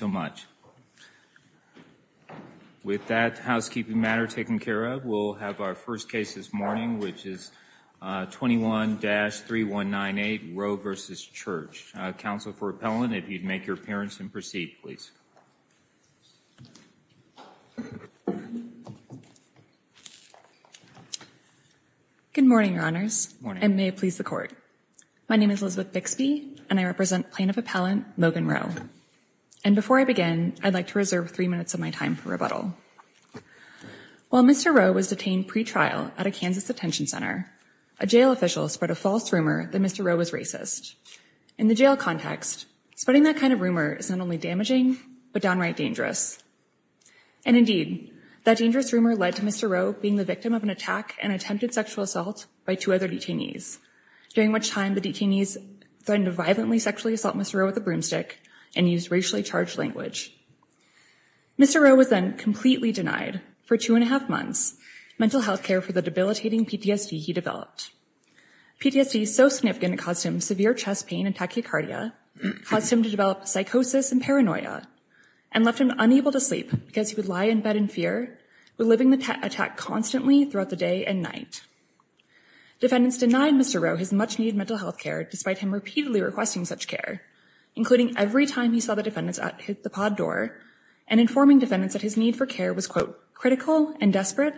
Council for Appellant, if you'd make your appearance and proceed, please. Good morning, Your Honors. Good morning. I may please the Court. My name is Elizabeth Bixby, and I represent Plaintiff Appellant Logan Rowe. And before I begin, I'd like to reserve three minutes of my time for rebuttal. While Mr. Rowe was detained pre-trial at a Kansas detention center, a jail official spread a false rumor that Mr. Rowe was racist. In the jail context, spreading that kind of rumor is not only damaging, but downright dangerous. And indeed, that dangerous rumor led to Mr. Rowe being the victim of an attack and attempted sexual assault by two other detainees, during which time the detainees threatened to violently sexually assault Mr. Rowe with a broomstick and used racially charged language. Mr. Rowe was then completely denied, for two and a half months, mental health care for the debilitating PTSD he developed. PTSD so significant it caused him severe chest pain and tachycardia, caused him to develop psychosis and paranoia, and left him unable to sleep because he would lie in bed in fear, reliving the attack constantly throughout the day and night. Defendants denied Mr. Rowe his much-needed mental health care, despite him repeatedly requesting such care, including every time he saw the defendants at the pod door and informing defendants that his need for care was, quote, critical and desperate,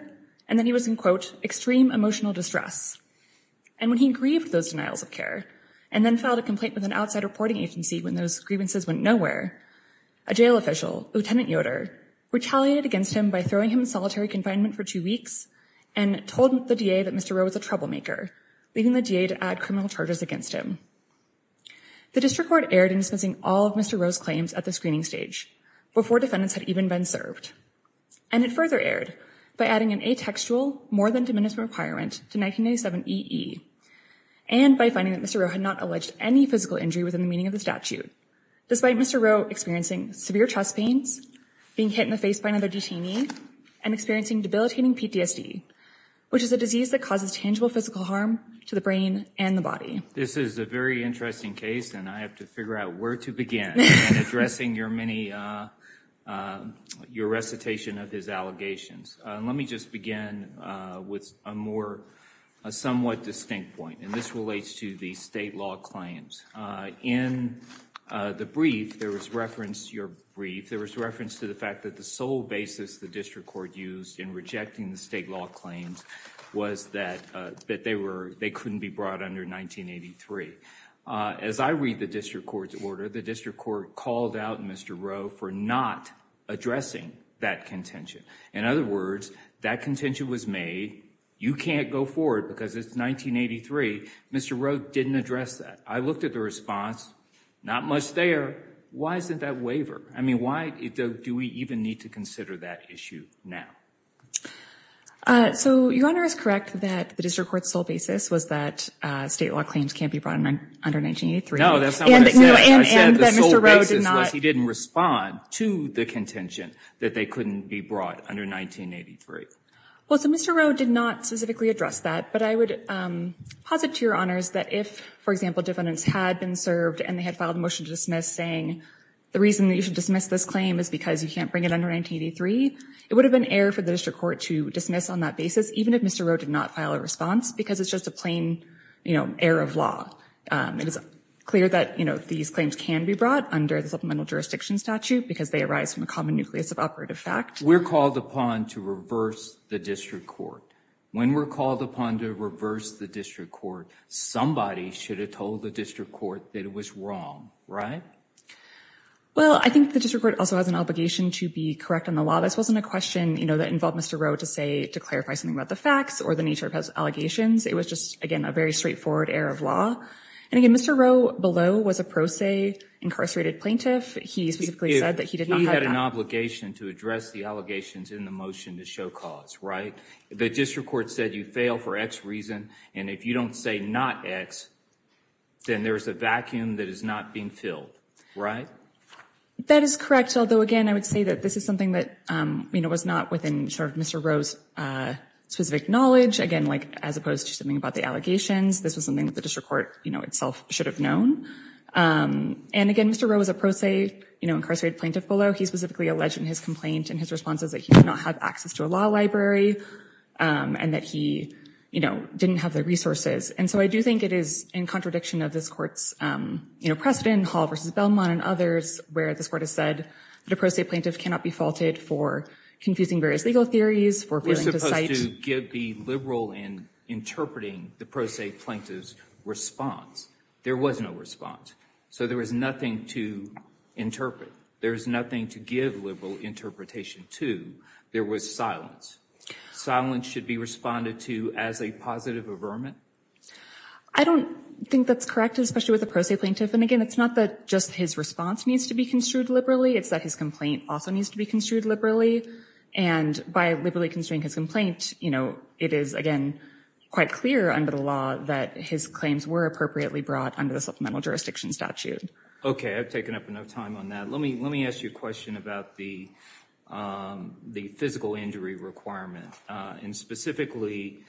and that he was in, quote, extreme emotional distress. And when he grieved those denials of care and then filed a complaint with an outside reporting agency when those grievances went nowhere, a jail official, Lieutenant Yoder, retaliated against him by throwing him in solitary confinement for two weeks and told the DA that Mr. Rowe was a troublemaker, leaving the DA to add criminal charges against him. The district court erred in dismissing all of Mr. Rowe's claims at the screening stage before defendants had even been served. And it further erred by adding an atextual, more than diminutive requirement to 1997 EE, and by finding that Mr. Rowe had not alleged any physical injury within the meaning of the statute, despite Mr. Rowe experiencing severe chest pains, being hit in the face by another detainee, and experiencing debilitating PTSD, which is a disease that causes tangible physical harm to the brain and the body. This is a very interesting case, and I have to figure out where to begin in addressing your many, your recitation of his allegations. Let me just begin with a more, a somewhat distinct point, and this relates to the state law claims. In the brief, there was reference, your brief, there was reference to the fact that the sole basis the district court used in rejecting the state law claims was that they couldn't be brought under 1983. As I read the district court's order, the district court called out Mr. Rowe for not addressing that contention. In other words, that contention was made, you can't go forward because it's 1983. Mr. Rowe didn't address that. I looked at the response, not much there. Why isn't that waiver? I mean, why do we even need to consider that issue now? Uh, so your honor is correct that the district court's sole basis was that state law claims can't be brought under 1983. No, that's not what I said, I said the sole basis was he didn't respond to the contention that they couldn't be brought under 1983. Well, so Mr. Rowe did not specifically address that, but I would posit to your honors that if, for example, defendants had been served and they had filed a motion to dismiss saying the reason that you should dismiss this claim is because you can't bring it under 1983, it would have been air for the district court to dismiss on that basis, even if Mr. Rowe did not file a response, because it's just a plain, you know, error of law. It is clear that, you know, these claims can be brought under the supplemental jurisdiction statute because they arise from a common nucleus of operative fact. We're called upon to reverse the district court. When we're called upon to reverse the district court, somebody should have told the district court that it was wrong, right? Well, I think the district court also has an obligation to be correct on the law. This wasn't a question, you know, that involved Mr. Rowe to say, to clarify something about the facts or the nature of his allegations. It was just, again, a very straightforward error of law. And again, Mr. Rowe below was a pro se incarcerated plaintiff. He specifically said that he did not have an obligation to address the allegations in the motion to show cause, right? The district court said you fail for X reason, and if you don't say not X, then there's a vacuum that is not being filled. Right? That is correct. Although, again, I would say that this is something that, you know, was not within sort of Mr. Rowe's specific knowledge. Again, like as opposed to something about the allegations, this was something that the district court, you know, itself should have known. And again, Mr. Rowe was a pro se, you know, incarcerated plaintiff below. He specifically alleged in his complaint and his responses that he did not have access to a law library and that he, you know, didn't have the resources. And so I do think it is in contradiction of this court's, you know, Hall v. Belmont and others where this court has said that a pro se plaintiff cannot be faulted for confusing various legal theories, for failing to cite- It was supposed to give the liberal in interpreting the pro se plaintiff's response. There was no response. So there was nothing to interpret. There's nothing to give liberal interpretation to. There was silence. Silence should be responded to as a positive averment. I don't think that's correct, especially with a pro se plaintiff. Again, it's not that just his response needs to be construed liberally. It's that his complaint also needs to be construed liberally. And by liberally construing his complaint, you know, it is, again, quite clear under the law that his claims were appropriately brought under the Supplemental Jurisdiction Statute. Okay, I've taken up enough time on that. Let me ask you a question about the physical injury requirement and specifically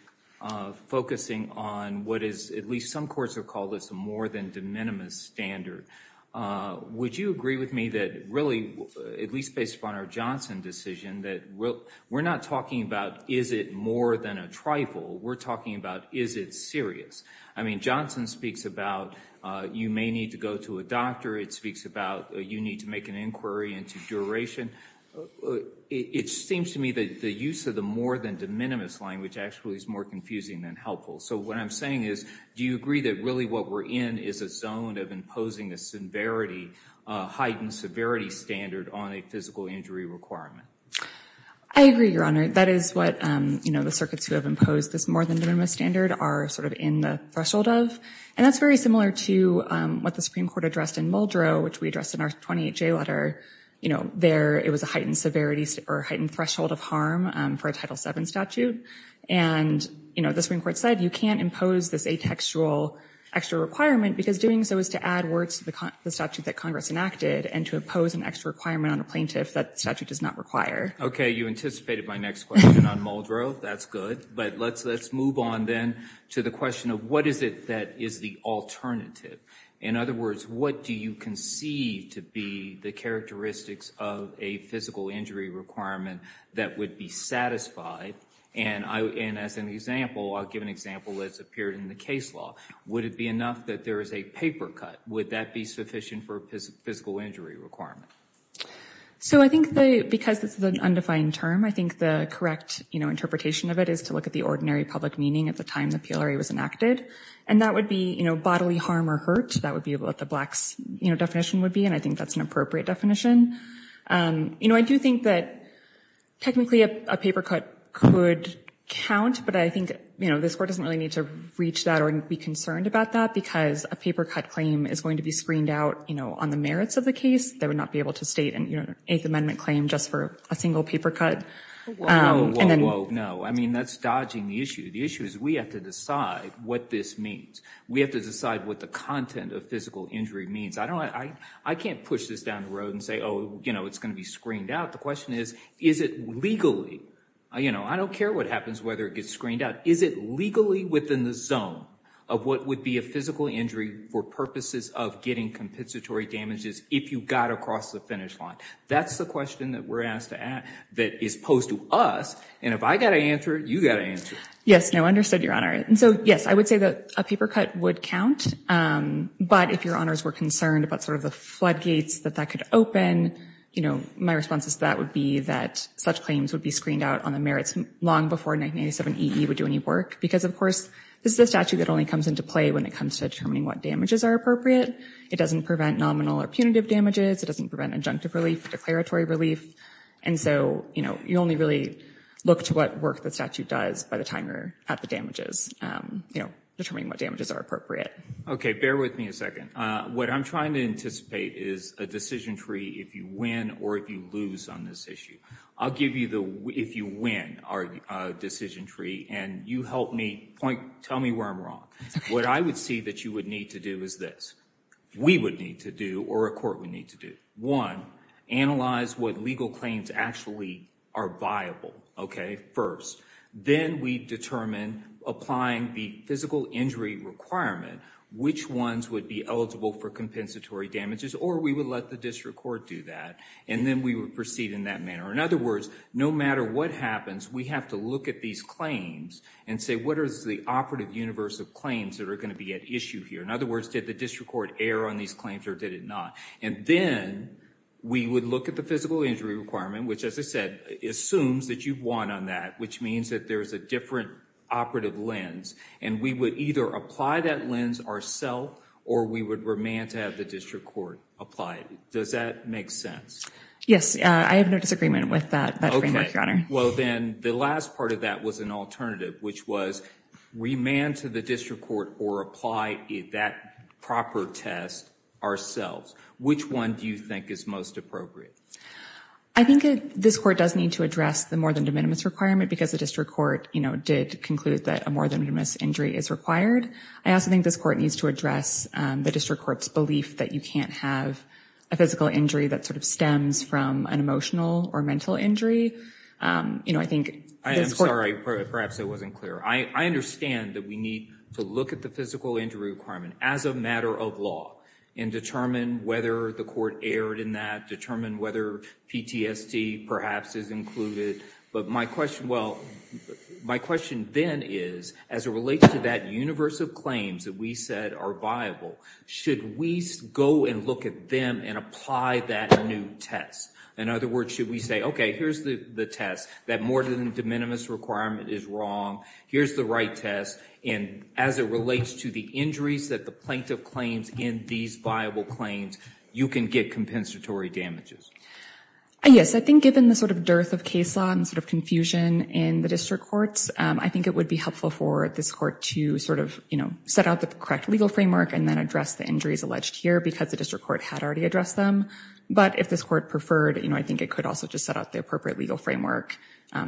focusing on what is, at least some courts have called this a more than de minimis standard. Would you agree with me that really, at least based upon our Johnson decision, that we're not talking about is it more than a trifle? We're talking about is it serious? I mean, Johnson speaks about you may need to go to a doctor. It speaks about you need to make an inquiry into duration. It seems to me that the use of the more than de minimis language actually is more confusing than helpful. So what I'm saying is, do you agree that really what we're in is a zone of imposing a severity, a heightened severity standard on a physical injury requirement? I agree, Your Honor. That is what, you know, the circuits who have imposed this more than de minimis standard are sort of in the threshold of. And that's very similar to what the Supreme Court addressed in Muldrow, which we addressed in our 28J letter. You know, there it was a heightened severity or heightened threshold of harm for a Title VII statute. And, you know, the Supreme Court said, you can't impose this atextual extra requirement because doing so is to add words to the statute that Congress enacted and to impose an extra requirement on a plaintiff that statute does not require. OK, you anticipated my next question on Muldrow. That's good. But let's move on then to the question of what is it that is the alternative? In other words, what do you conceive to be the characteristics of a physical injury requirement that would be satisfied and as an example, I'll give an example that's appeared in the case law. Would it be enough that there is a paper cut? Would that be sufficient for a physical injury requirement? So I think that because it's an undefined term, I think the correct, you know, interpretation of it is to look at the ordinary public meaning at the time the PLRA was enacted. And that would be, you know, bodily harm or hurt. That would be what the blacks, you know, definition would be. And I think that's an appropriate definition. You know, I do think that technically a paper cut could count. But I think, you know, this court doesn't really need to reach that or be concerned about that because a paper cut claim is going to be screened out, you know, on the merits of the case. They would not be able to state an 8th Amendment claim just for a single paper cut. Whoa, whoa, whoa, no. I mean, that's dodging the issue. The issue is we have to decide what this means. We have to decide what the content of physical injury means. I can't push this down the road and say, oh, you know, it's going to be screened out. The question is, is it legally? You know, I don't care what happens, whether it gets screened out. Is it legally within the zone of what would be a physical injury for purposes of getting compensatory damages if you got across the finish line? That's the question that we're asked to ask, that is posed to us. And if I got to answer it, you got to answer it. Yes, no, understood, Your Honor. And so, yes, I would say that a paper cut would count. But if Your Honors were concerned about sort of the floodgates that that could open, you know, my responses to that would be that such claims would be screened out on the merits long before 1997 EE would do any work. Because, of course, this is a statute that only comes into play when it comes to determining what damages are appropriate. It doesn't prevent nominal or punitive damages. It doesn't prevent adjunctive relief or declaratory relief. And so, you know, you only really look to what work the statute does by the time you're at the damages, you know, determining what damages are appropriate. Bear with me a second. What I'm trying to anticipate is a decision tree if you win or if you lose on this issue. I'll give you the if you win our decision tree and you help me point, tell me where I'm wrong. What I would see that you would need to do is this. We would need to do or a court would need to do. One, analyze what legal claims actually are viable. Okay, first. Then we determine applying the physical injury requirement which ones would be eligible for compensatory damages or we would let the district court do that. And then we would proceed in that manner. In other words, no matter what happens, we have to look at these claims and say, what is the operative universe of claims that are going to be at issue here? In other words, did the district court err on these claims or did it not? And then we would look at the physical injury requirement, which, as I said, assumes that you've won on that, which means that there's a different operative lens. And we would either apply that lens ourself or we would remand to have the district court apply it. Does that make sense? Yes, I have no disagreement with that framework, Your Honor. Well, then the last part of that was an alternative, which was remand to the district court or apply that proper test ourselves. Which one do you think is most appropriate? I think this court does need to address the more than de minimis requirement because the district court, you know, did conclude that a more than de minimis injury is required. I also think this court needs to address the district court's belief that you can't have a physical injury that sort of stems from an emotional or mental injury. You know, I think... I am sorry, perhaps I wasn't clear. I understand that we need to look at the physical injury requirement as a matter of law and determine whether the court erred in that, determine whether PTSD perhaps is included. But my question, well, my question then is, as it relates to that universe of claims that we said are viable, should we go and look at them and apply that new test? In other words, should we say, okay, here's the test, that more than de minimis requirement is wrong. Here's the right test. And as it relates to the injuries that the plaintiff claims in these viable claims, you can get compensatory damages. Yes, I think given the sort of dearth of case law and sort of confusion in the district courts, I think it would be helpful for this court to sort of, you know, set out the correct legal framework and then address the injuries alleged here because the district court had already addressed them. But if this court preferred, you know, I think it could also just set out the appropriate legal framework,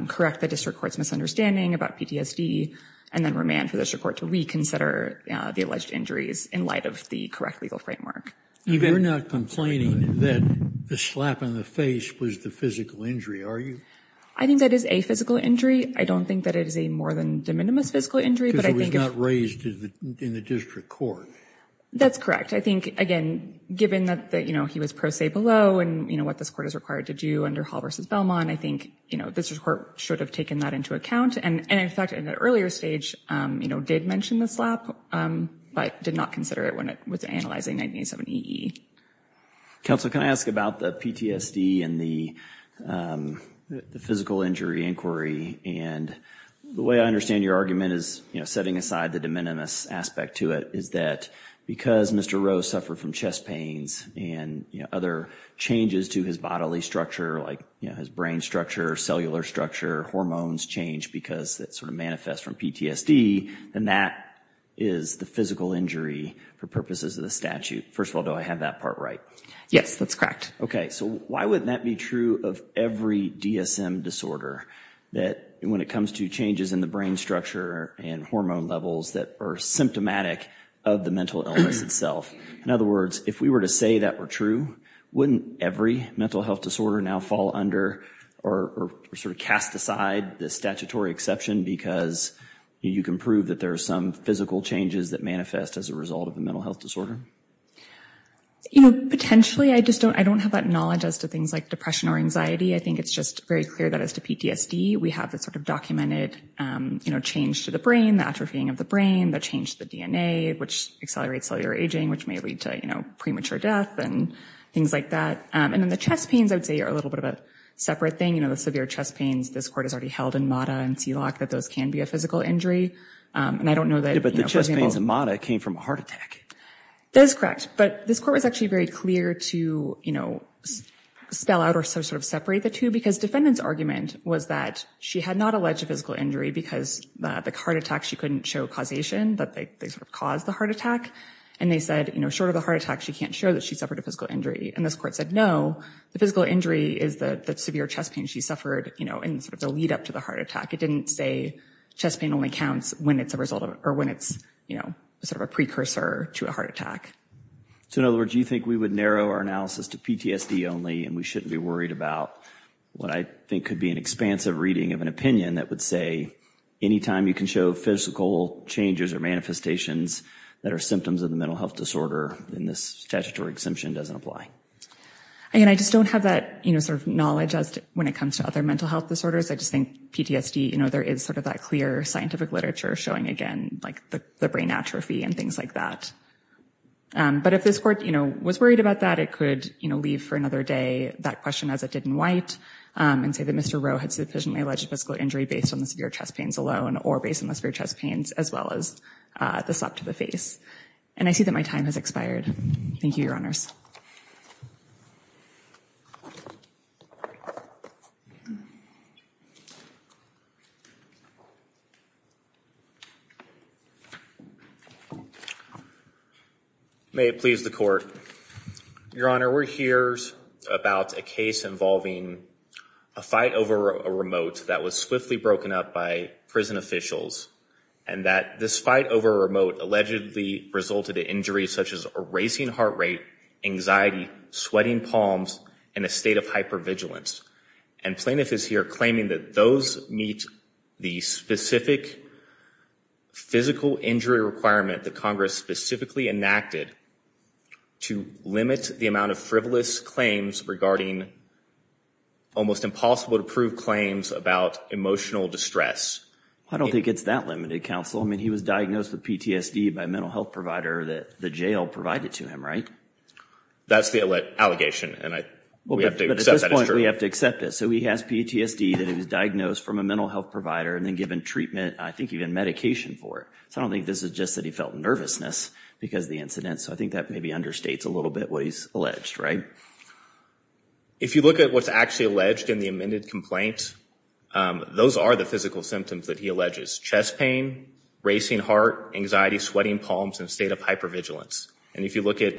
correct the district court's misunderstanding about PTSD, and then remand for the district court to reconsider the alleged injuries in light of the correct legal framework. And you're not complaining that the slap in the face was the physical injury, are you? I think that is a physical injury. I don't think that it is a more than de minimis physical injury, but I think- Because it was not raised in the district court. That's correct. I think, again, given that, you know, he was pro se below and, you know, what this court is required to do under Hall v. Belmont, I think, you know, this court should have taken that into account. And in fact, in the earlier stage, you know, did mention the slap, but did not consider it with analyzing 1987 EE. Counsel, can I ask about the PTSD and the physical injury inquiry? And the way I understand your argument is, you know, setting aside the de minimis aspect to it is that because Mr. Rowe suffered from chest pains and, you know, other changes to his bodily structure, like, you know, his brain structure, cellular structure, hormones change because that sort of manifests from PTSD, then that is the physical injury for purposes of the statute. First of all, do I have that part right? Yes, that's correct. Okay, so why wouldn't that be true of every DSM disorder that when it comes to changes in the brain structure and hormone levels that are symptomatic of the mental illness itself? In other words, if we were to say that were true, wouldn't every mental health disorder now fall under or sort of cast aside the statutory exception because you can prove that there are some physical changes that manifest as a result of the mental health disorder? You know, potentially, I just don't, I don't have that knowledge as to things like depression or anxiety. I think it's just very clear that as to PTSD, we have the sort of documented, you know, change to the brain, the atrophying of the brain, the change to the DNA, which accelerates cellular aging, which may lead to, you know, premature death and things like that. And then the chest pains, I would say, are a little bit of a separate thing. You know, the severe chest pains, this court has already held in MATA and CILAC that those can be a physical injury. And I don't know that... Yeah, but the chest pains in MATA came from a heart attack. That is correct. But this court was actually very clear to, you know, spell out or sort of separate the two because defendant's argument was that she had not alleged a physical injury because the heart attack, she couldn't show causation, that they sort of caused the heart attack. And they said, you know, short of the heart attack, she can't show that she suffered a physical injury. And this court said, no, the physical injury is the severe chest pain she suffered, you know, in sort of the lead up to the heart attack. It didn't say chest pain only counts when it's a result of, or when it's, you know, sort of a precursor to a heart attack. So in other words, you think we would narrow our analysis to PTSD only, and we shouldn't be worried about what I think could be an expansive reading of an opinion that would say, anytime you can show physical changes or manifestations that are symptoms of the mental health disorder, then this statutory exemption doesn't apply. Again, I just don't have that, you know, sort of knowledge as to when it comes to other mental health disorders. I just think PTSD, you know, there is sort of that clear scientific literature showing again, like the brain atrophy and things like that. But if this court, you know, was worried about that, it could, you know, leave for another day that question as it did in White and say that Mr. Rowe had sufficiently alleged physical injury based on the severe chest pains alone or based on the severe chest pains, as well as the slap to the face. And I see that my time has expired. Thank you, Your Honors. May it please the court. Your Honor, we're here about a case involving a fight over a remote that was swiftly broken up by prison officials and that this fight over a remote allegedly resulted in injuries such as a racing heart rate, anxiety, sweating palms, and a state of hypervigilance. And plaintiff is here claiming that those meet the specific physical injury requirement that Congress specifically enacted to limit the amount of frivolous claims regarding almost impossible to prove claims about emotional distress. I don't think it's that limited, counsel. I mean, he was diagnosed with PTSD by a mental health provider that the jail provided to him, right? That's the allegation. And we have to accept that it's true. We have to accept this. He has PTSD that he was diagnosed from a mental health provider and then given treatment, I think even medication for it. So I don't think this is just that he felt nervousness because of the incident. So I think that maybe understates a little bit what he's alleged, right? If you look at what's actually alleged in the amended complaint, those are the physical symptoms that he alleges. Chest pain, racing heart, anxiety, sweating palms, and a state of hypervigilance. And if you look at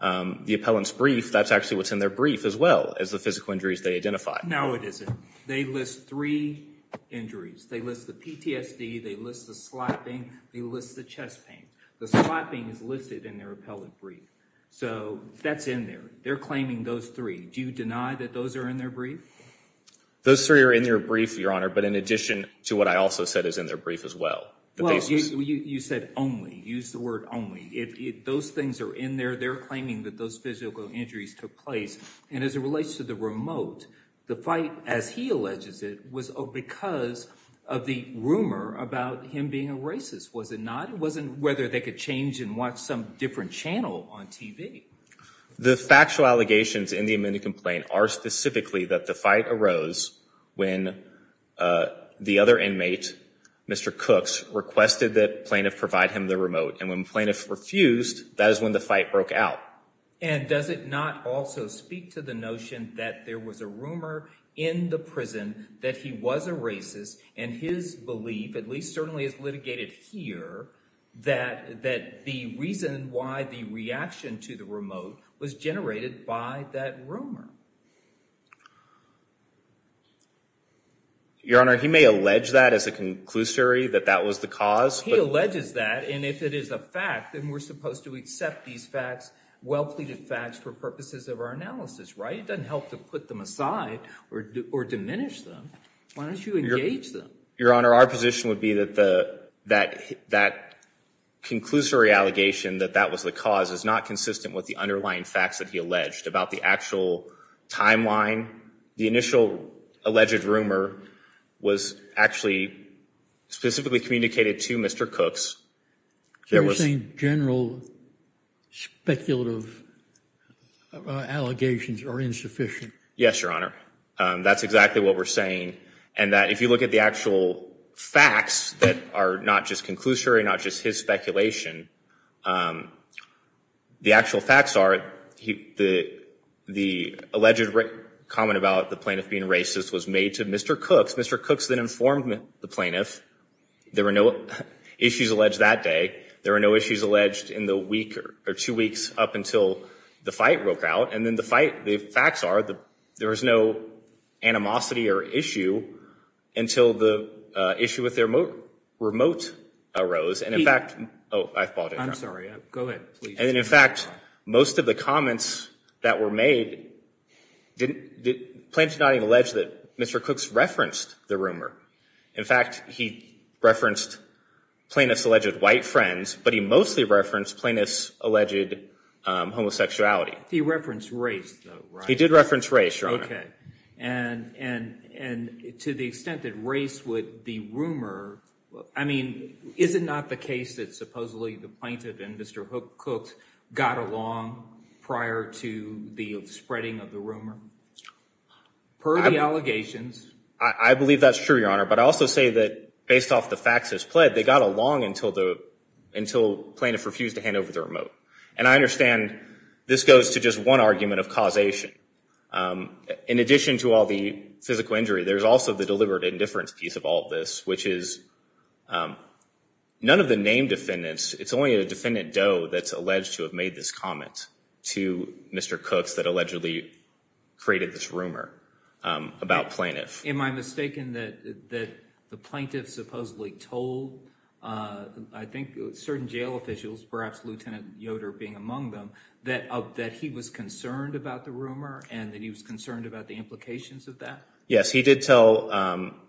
the appellant's brief, that's actually what's in their brief as well as the physical injuries they identify. No, it isn't. They list three injuries. They list the PTSD. They list the slapping. They list the chest pain. The slapping is listed in their appellant brief. So that's in there. They're claiming those three. Do you deny that those are in their brief? Those three are in their brief, Your Honor. But in addition to what I also said is in their brief as well. Well, you said only. Use the word only. Those things are in there. They're claiming that those physical injuries took place. And as it relates to the remote, the fight, as he alleges it, was because of the rumor about him being a racist. Was it not? It wasn't whether they could change and watch some different channel on TV. The factual allegations in the amended complaint are specifically that the fight arose when the other inmate, Mr. Cooks, requested that plaintiff provide him the remote. And when plaintiff refused, that is when the fight broke out. And does it not also speak to the notion that there was a rumor in the prison that he was a racist and his belief, at least certainly as litigated here, that the reason why the reaction to the remote was generated by that rumor? Your Honor, he may allege that as a conclusory that that was the cause. He alleges that. And if it is a fact, then we're supposed to accept these facts, well-pleaded facts, for purposes of our analysis, right? It doesn't help to put them aside or diminish them. Why don't you engage them? Your Honor, our position would be that that conclusory allegation that that was the cause is not consistent with the underlying facts that he alleged about the actual timeline. The initial alleged rumor was actually specifically communicated to Mr. Cooks. So you're saying general speculative allegations are insufficient? Yes, Your Honor. That's exactly what we're saying. And that if you look at the actual facts that are not just conclusory, not just his speculation, the actual facts are the alleged comment about the plaintiff being racist was made to Mr. Cooks. Mr. Cooks then informed the plaintiff. There were no issues alleged that day. There were no issues alleged in the week or two weeks up until the fight broke out. And then the facts are there was no animosity or issue until the issue with their remote arose. And in fact, most of the comments that were made, plaintiffs did not even allege that Mr. Cooks referenced the rumor. In fact, he referenced plaintiffs' alleged white friends, but he mostly referenced plaintiffs' alleged homosexuality. He referenced race though, right? He did reference race, Your Honor. OK. And to the extent that race would be rumor, I mean, is it not the case that supposedly the plaintiff and Mr. Cooks got along prior to the spreading of the rumor? Per the allegations. I believe that's true, Your Honor. But I also say that based off the facts as pled, they got along until the remote. And I understand this goes to just one argument of causation. In addition to all the physical injury, there's also the deliberate indifference piece of all this, which is none of the named defendants, it's only a defendant doe that's alleged to have made this comment to Mr. Cooks that allegedly created this rumor about plaintiff. Am I mistaken that the plaintiff supposedly told, I think certain jail officials, perhaps Lieutenant Yoder being among them, that he was concerned about the rumor and that he was concerned about the implications of that? Yes, he did tell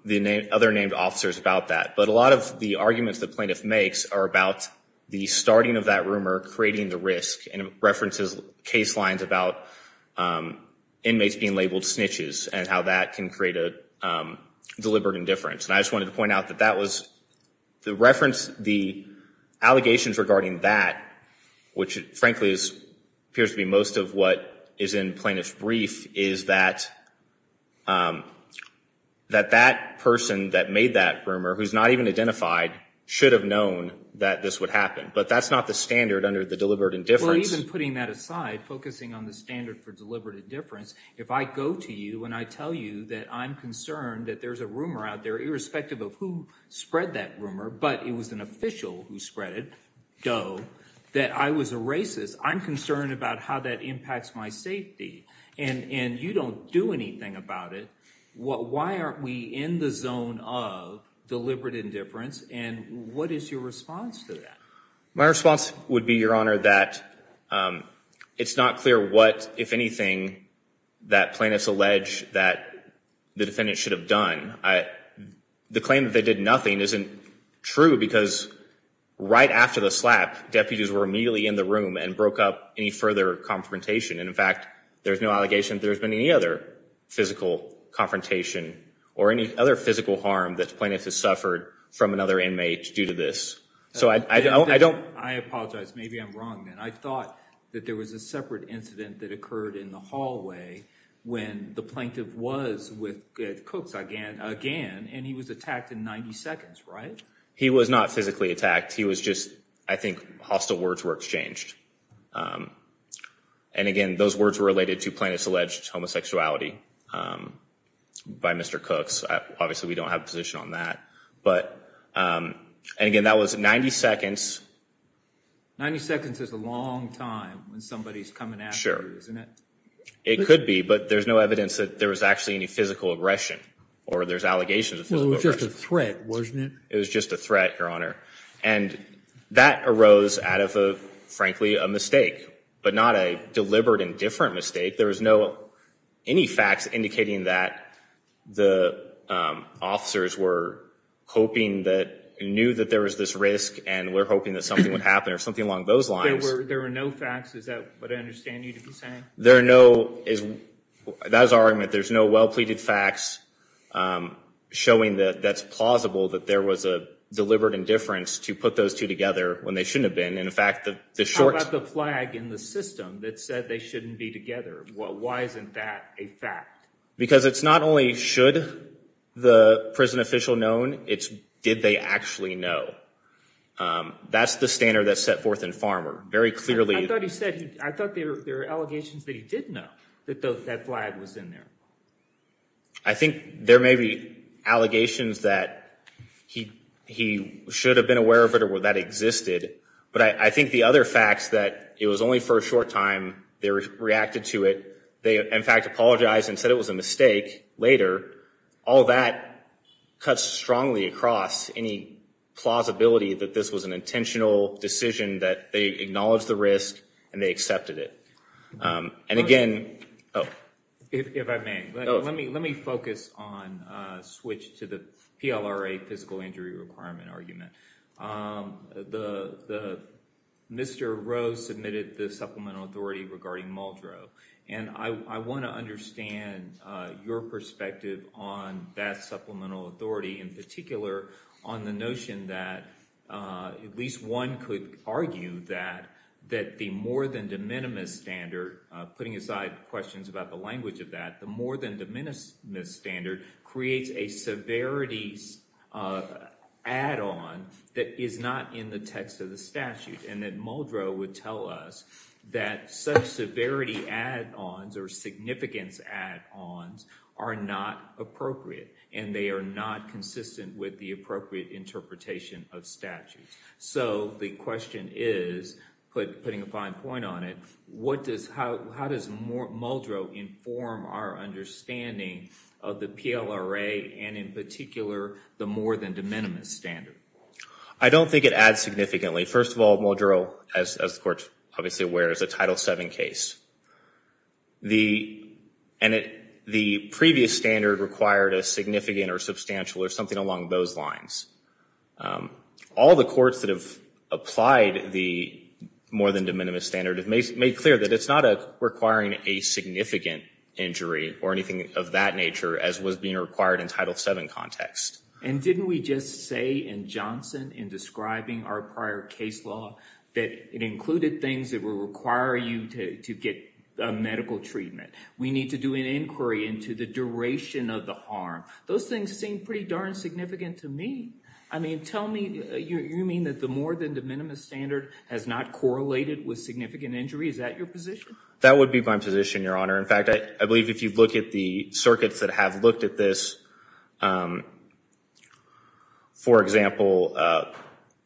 the other named officers about that. But a lot of the arguments the plaintiff makes are about the starting of that rumor, creating the risk and references case lines about inmates being labeled snitches and how that can create a deliberate indifference. And I just wanted to point out that that was the reference, the allegations regarding that, which frankly appears to be most of what is in plaintiff's brief, is that that person that made that rumor, who's not even identified, should have known that this would happen. But that's not the standard under the deliberate indifference. Well, even putting that aside, focusing on the standard for deliberate indifference, if I go to you and I tell you that I'm concerned that there's a rumor out there, irrespective of who spread that rumor, but it was an official who spread it, though, that I was a racist, I'm concerned about how that impacts my safety. And you don't do anything about it. Why aren't we in the zone of deliberate indifference? And what is your response to that? My response would be, Your Honor, that it's not clear what, if anything, that plaintiffs allege that the defendant should have done. The claim that they did nothing isn't true because right after the slap, deputies were immediately in the room and broke up any further confrontation. And in fact, there's no allegation that there's been any other physical confrontation or any other physical harm that the plaintiff has suffered from another inmate due to this. So I don't... I apologize. Maybe I'm wrong then. I thought that there was a separate incident that occurred in the hallway when the plaintiff was with Cooks again, and he was attacked in 90 seconds, right? He was not physically attacked. He was just, I think, hostile words were exchanged. And again, those words were related to plaintiff's alleged homosexuality by Mr. Cooks. Obviously, we don't have a position on that. But again, that was 90 seconds. 90 seconds is a long time when somebody's coming after you, isn't it? It could be, but there's no evidence that there was actually any physical aggression or there's allegations. Well, it was just a threat, wasn't it? It was just a threat, Your Honor. And that arose out of, frankly, a mistake, but not a deliberate and different mistake. There was no... Any facts indicating that the officers were hoping that... knew that there was this risk and were hoping that something would happen or something along those lines. There were no facts. Is that what I understand you to be saying? There are no... That is our argument. There's no well-pleaded facts. I'm showing that that's plausible that there was a deliberate indifference to put those two together when they shouldn't have been. In fact, the short... How about the flag in the system that said they shouldn't be together? Why isn't that a fact? Because it's not only should the prison official known, it's did they actually know? That's the standard that's set forth in Farmer. Very clearly... I thought he said... I thought there were allegations that he did know that that flag was in there. I think there may be allegations that he should have been aware of it or that existed. But I think the other facts that it was only for a short time they reacted to it. They, in fact, apologized and said it was a mistake later. All that cuts strongly across any plausibility that this was an intentional decision that they acknowledged the risk and they accepted it. And again... If I may, let me focus on... Switch to the PLRA physical injury requirement argument. Mr. Rowe submitted the supplemental authority regarding Muldrow. And I want to understand your perspective on that supplemental authority in particular on the notion that at least one could argue that the more than de minimis standard putting aside questions about the language of that, the more than de minimis standard creates a severity add-on that is not in the text of the statute. And that Muldrow would tell us that such severity add-ons or significance add-ons are not appropriate. And they are not consistent with the appropriate interpretation of statutes. So the question is, putting a fine point on it, how does Muldrow inform our understanding of the PLRA and in particular the more than de minimis standard? I don't think it adds significantly. First of all, Muldrow, as the court's obviously aware, is a Title VII case. And the previous standard required a significant or substantial or something along those lines. All the courts that have applied the more than de minimis standard made clear that it's not requiring a significant injury or anything of that nature as was being required in Title VII context. And didn't we just say in Johnson in describing our prior case law that it included things that will require you to get a medical treatment? We need to do an inquiry into the duration of the harm. Those things seem pretty darn significant to me. I mean, tell me you mean that the more than de minimis standard has not correlated with significant injury? Is that your position? That would be my position, Your Honor. In fact, I believe if you look at the circuits that have looked at this, for example,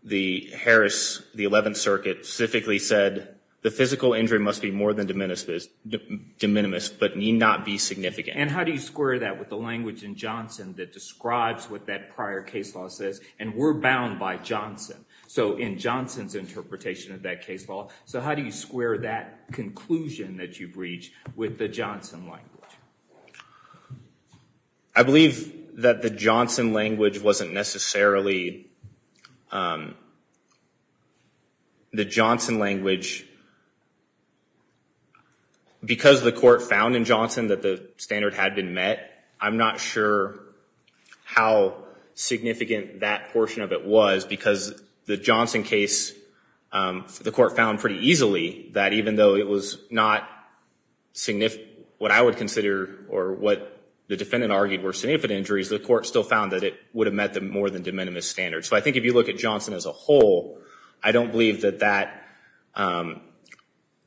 the Harris, the 11th Circuit specifically said the physical injury must be more than de minimis but need not be significant. And how do you square that with the language in Johnson that describes what that prior case law says? And we're bound by Johnson. So in Johnson's interpretation of that case law, how do you square that conclusion that you've reached with the Johnson language? I believe that the Johnson language wasn't necessarily the Johnson language because the court found in Johnson that the standard had been met. I'm not sure how significant that portion of it was because the Johnson case, the court found pretty easily that even though it was not what I would consider or what the defendant argued were significant injuries, the court still found that it would have met the more than de minimis standard. So I think if you look at Johnson as a whole, I don't believe that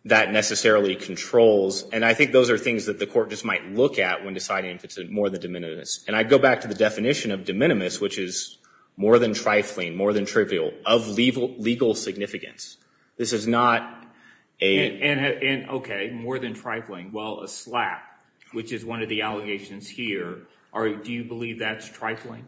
necessarily controls. And I think those are things that the court just might look at when deciding if it's more than de minimis. And I go back to the definition of de minimis, which is more than trifling, more than trivial, of legal significance. This is not a... Okay, more than trifling. Well, a slap, which is one of the allegations here, do you believe that's trifling?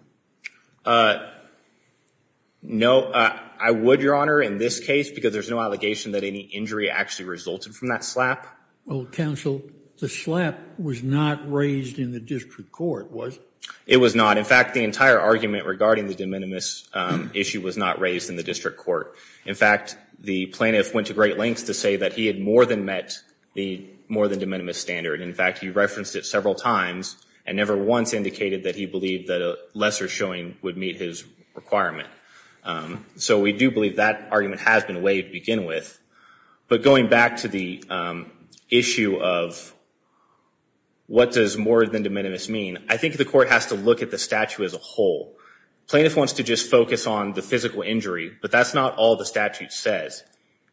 No, I would, Your Honor, in this case, because there's no allegation that any injury actually resulted from that slap. Well, counsel, the slap was not raised in the district court, was it? It was not. In fact, the entire argument regarding the de minimis issue was not raised in the district court. In fact, the plaintiff went to great lengths to say that he had more than met the more than de minimis standard. In fact, he referenced it several times and never once indicated that he believed that a lesser showing would meet his requirement. So we do believe that argument has been waived to begin with. But going back to the issue of what does more than de minimis mean, I think the court has to look at the statute as a whole. Plaintiff wants to just focus on the physical injury, but that's not all the statute says.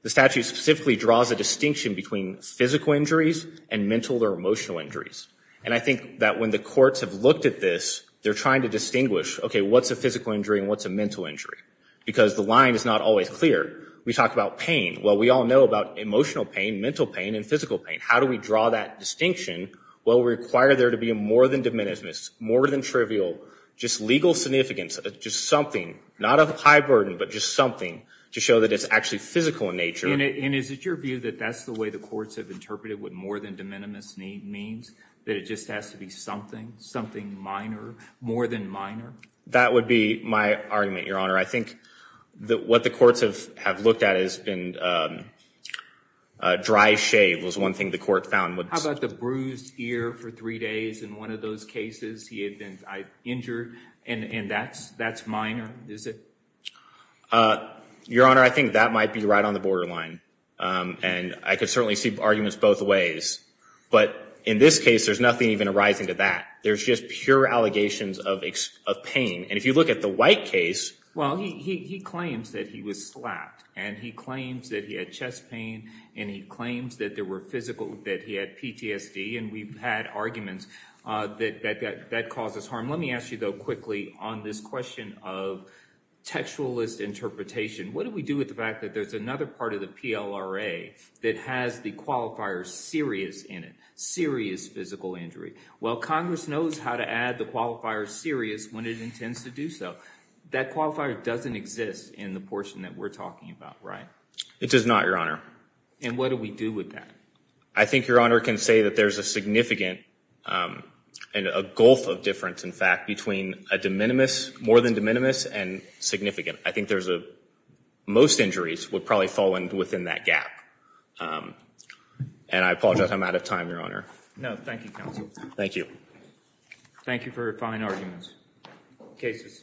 The statute specifically draws a distinction between physical injuries and mental or emotional injuries. And I think that when the courts have looked at this, they're trying to distinguish, OK, what's a physical injury and what's a mental injury? Because the line is not always clear. We talk about pain. Well, we all know about emotional pain, mental pain and physical pain. How do we draw that distinction? Well, we require there to be a more than de minimis, more than trivial, just legal significance, just something, not of a high burden, but just something to show that it's actually physical in nature. And is it your view that that's the way the courts have interpreted what more than de minimis means, that it just has to be something, something minor, more than minor? That would be my argument, Your Honor. I think that what the courts have looked at has been dry shave was one thing the court found. How about the bruised ear for three days in one of those cases? He had been injured and that's minor, is it? Your Honor, I think that might be right on the borderline. And I could certainly see arguments both ways. But in this case, there's nothing even arising to that. There's just pure allegations of pain. And if you look at the White case. Well, he claims that he was slapped and he claims that he had chest pain and he claims that there were physical, that he had PTSD. And we've had arguments that that causes harm. Let me ask you, though, quickly on this question of textualist interpretation. What do we do with the fact that there's another part of the PLRA that has the qualifier serious in it, serious physical injury? Well, Congress knows how to add the qualifier serious when it intends to do so. That qualifier doesn't exist in the portion that we're talking about, right? It does not, Your Honor. And what do we do with that? I think Your Honor can say that there's a significant and a gulf of difference, in fact, between a de minimis, more than de minimis, and significant. I think there's a, most injuries would probably fall within that gap. And I apologize, I'm out of time, Your Honor. No, thank you, counsel. Thank you. Thank you for your fine arguments. Case is submitted.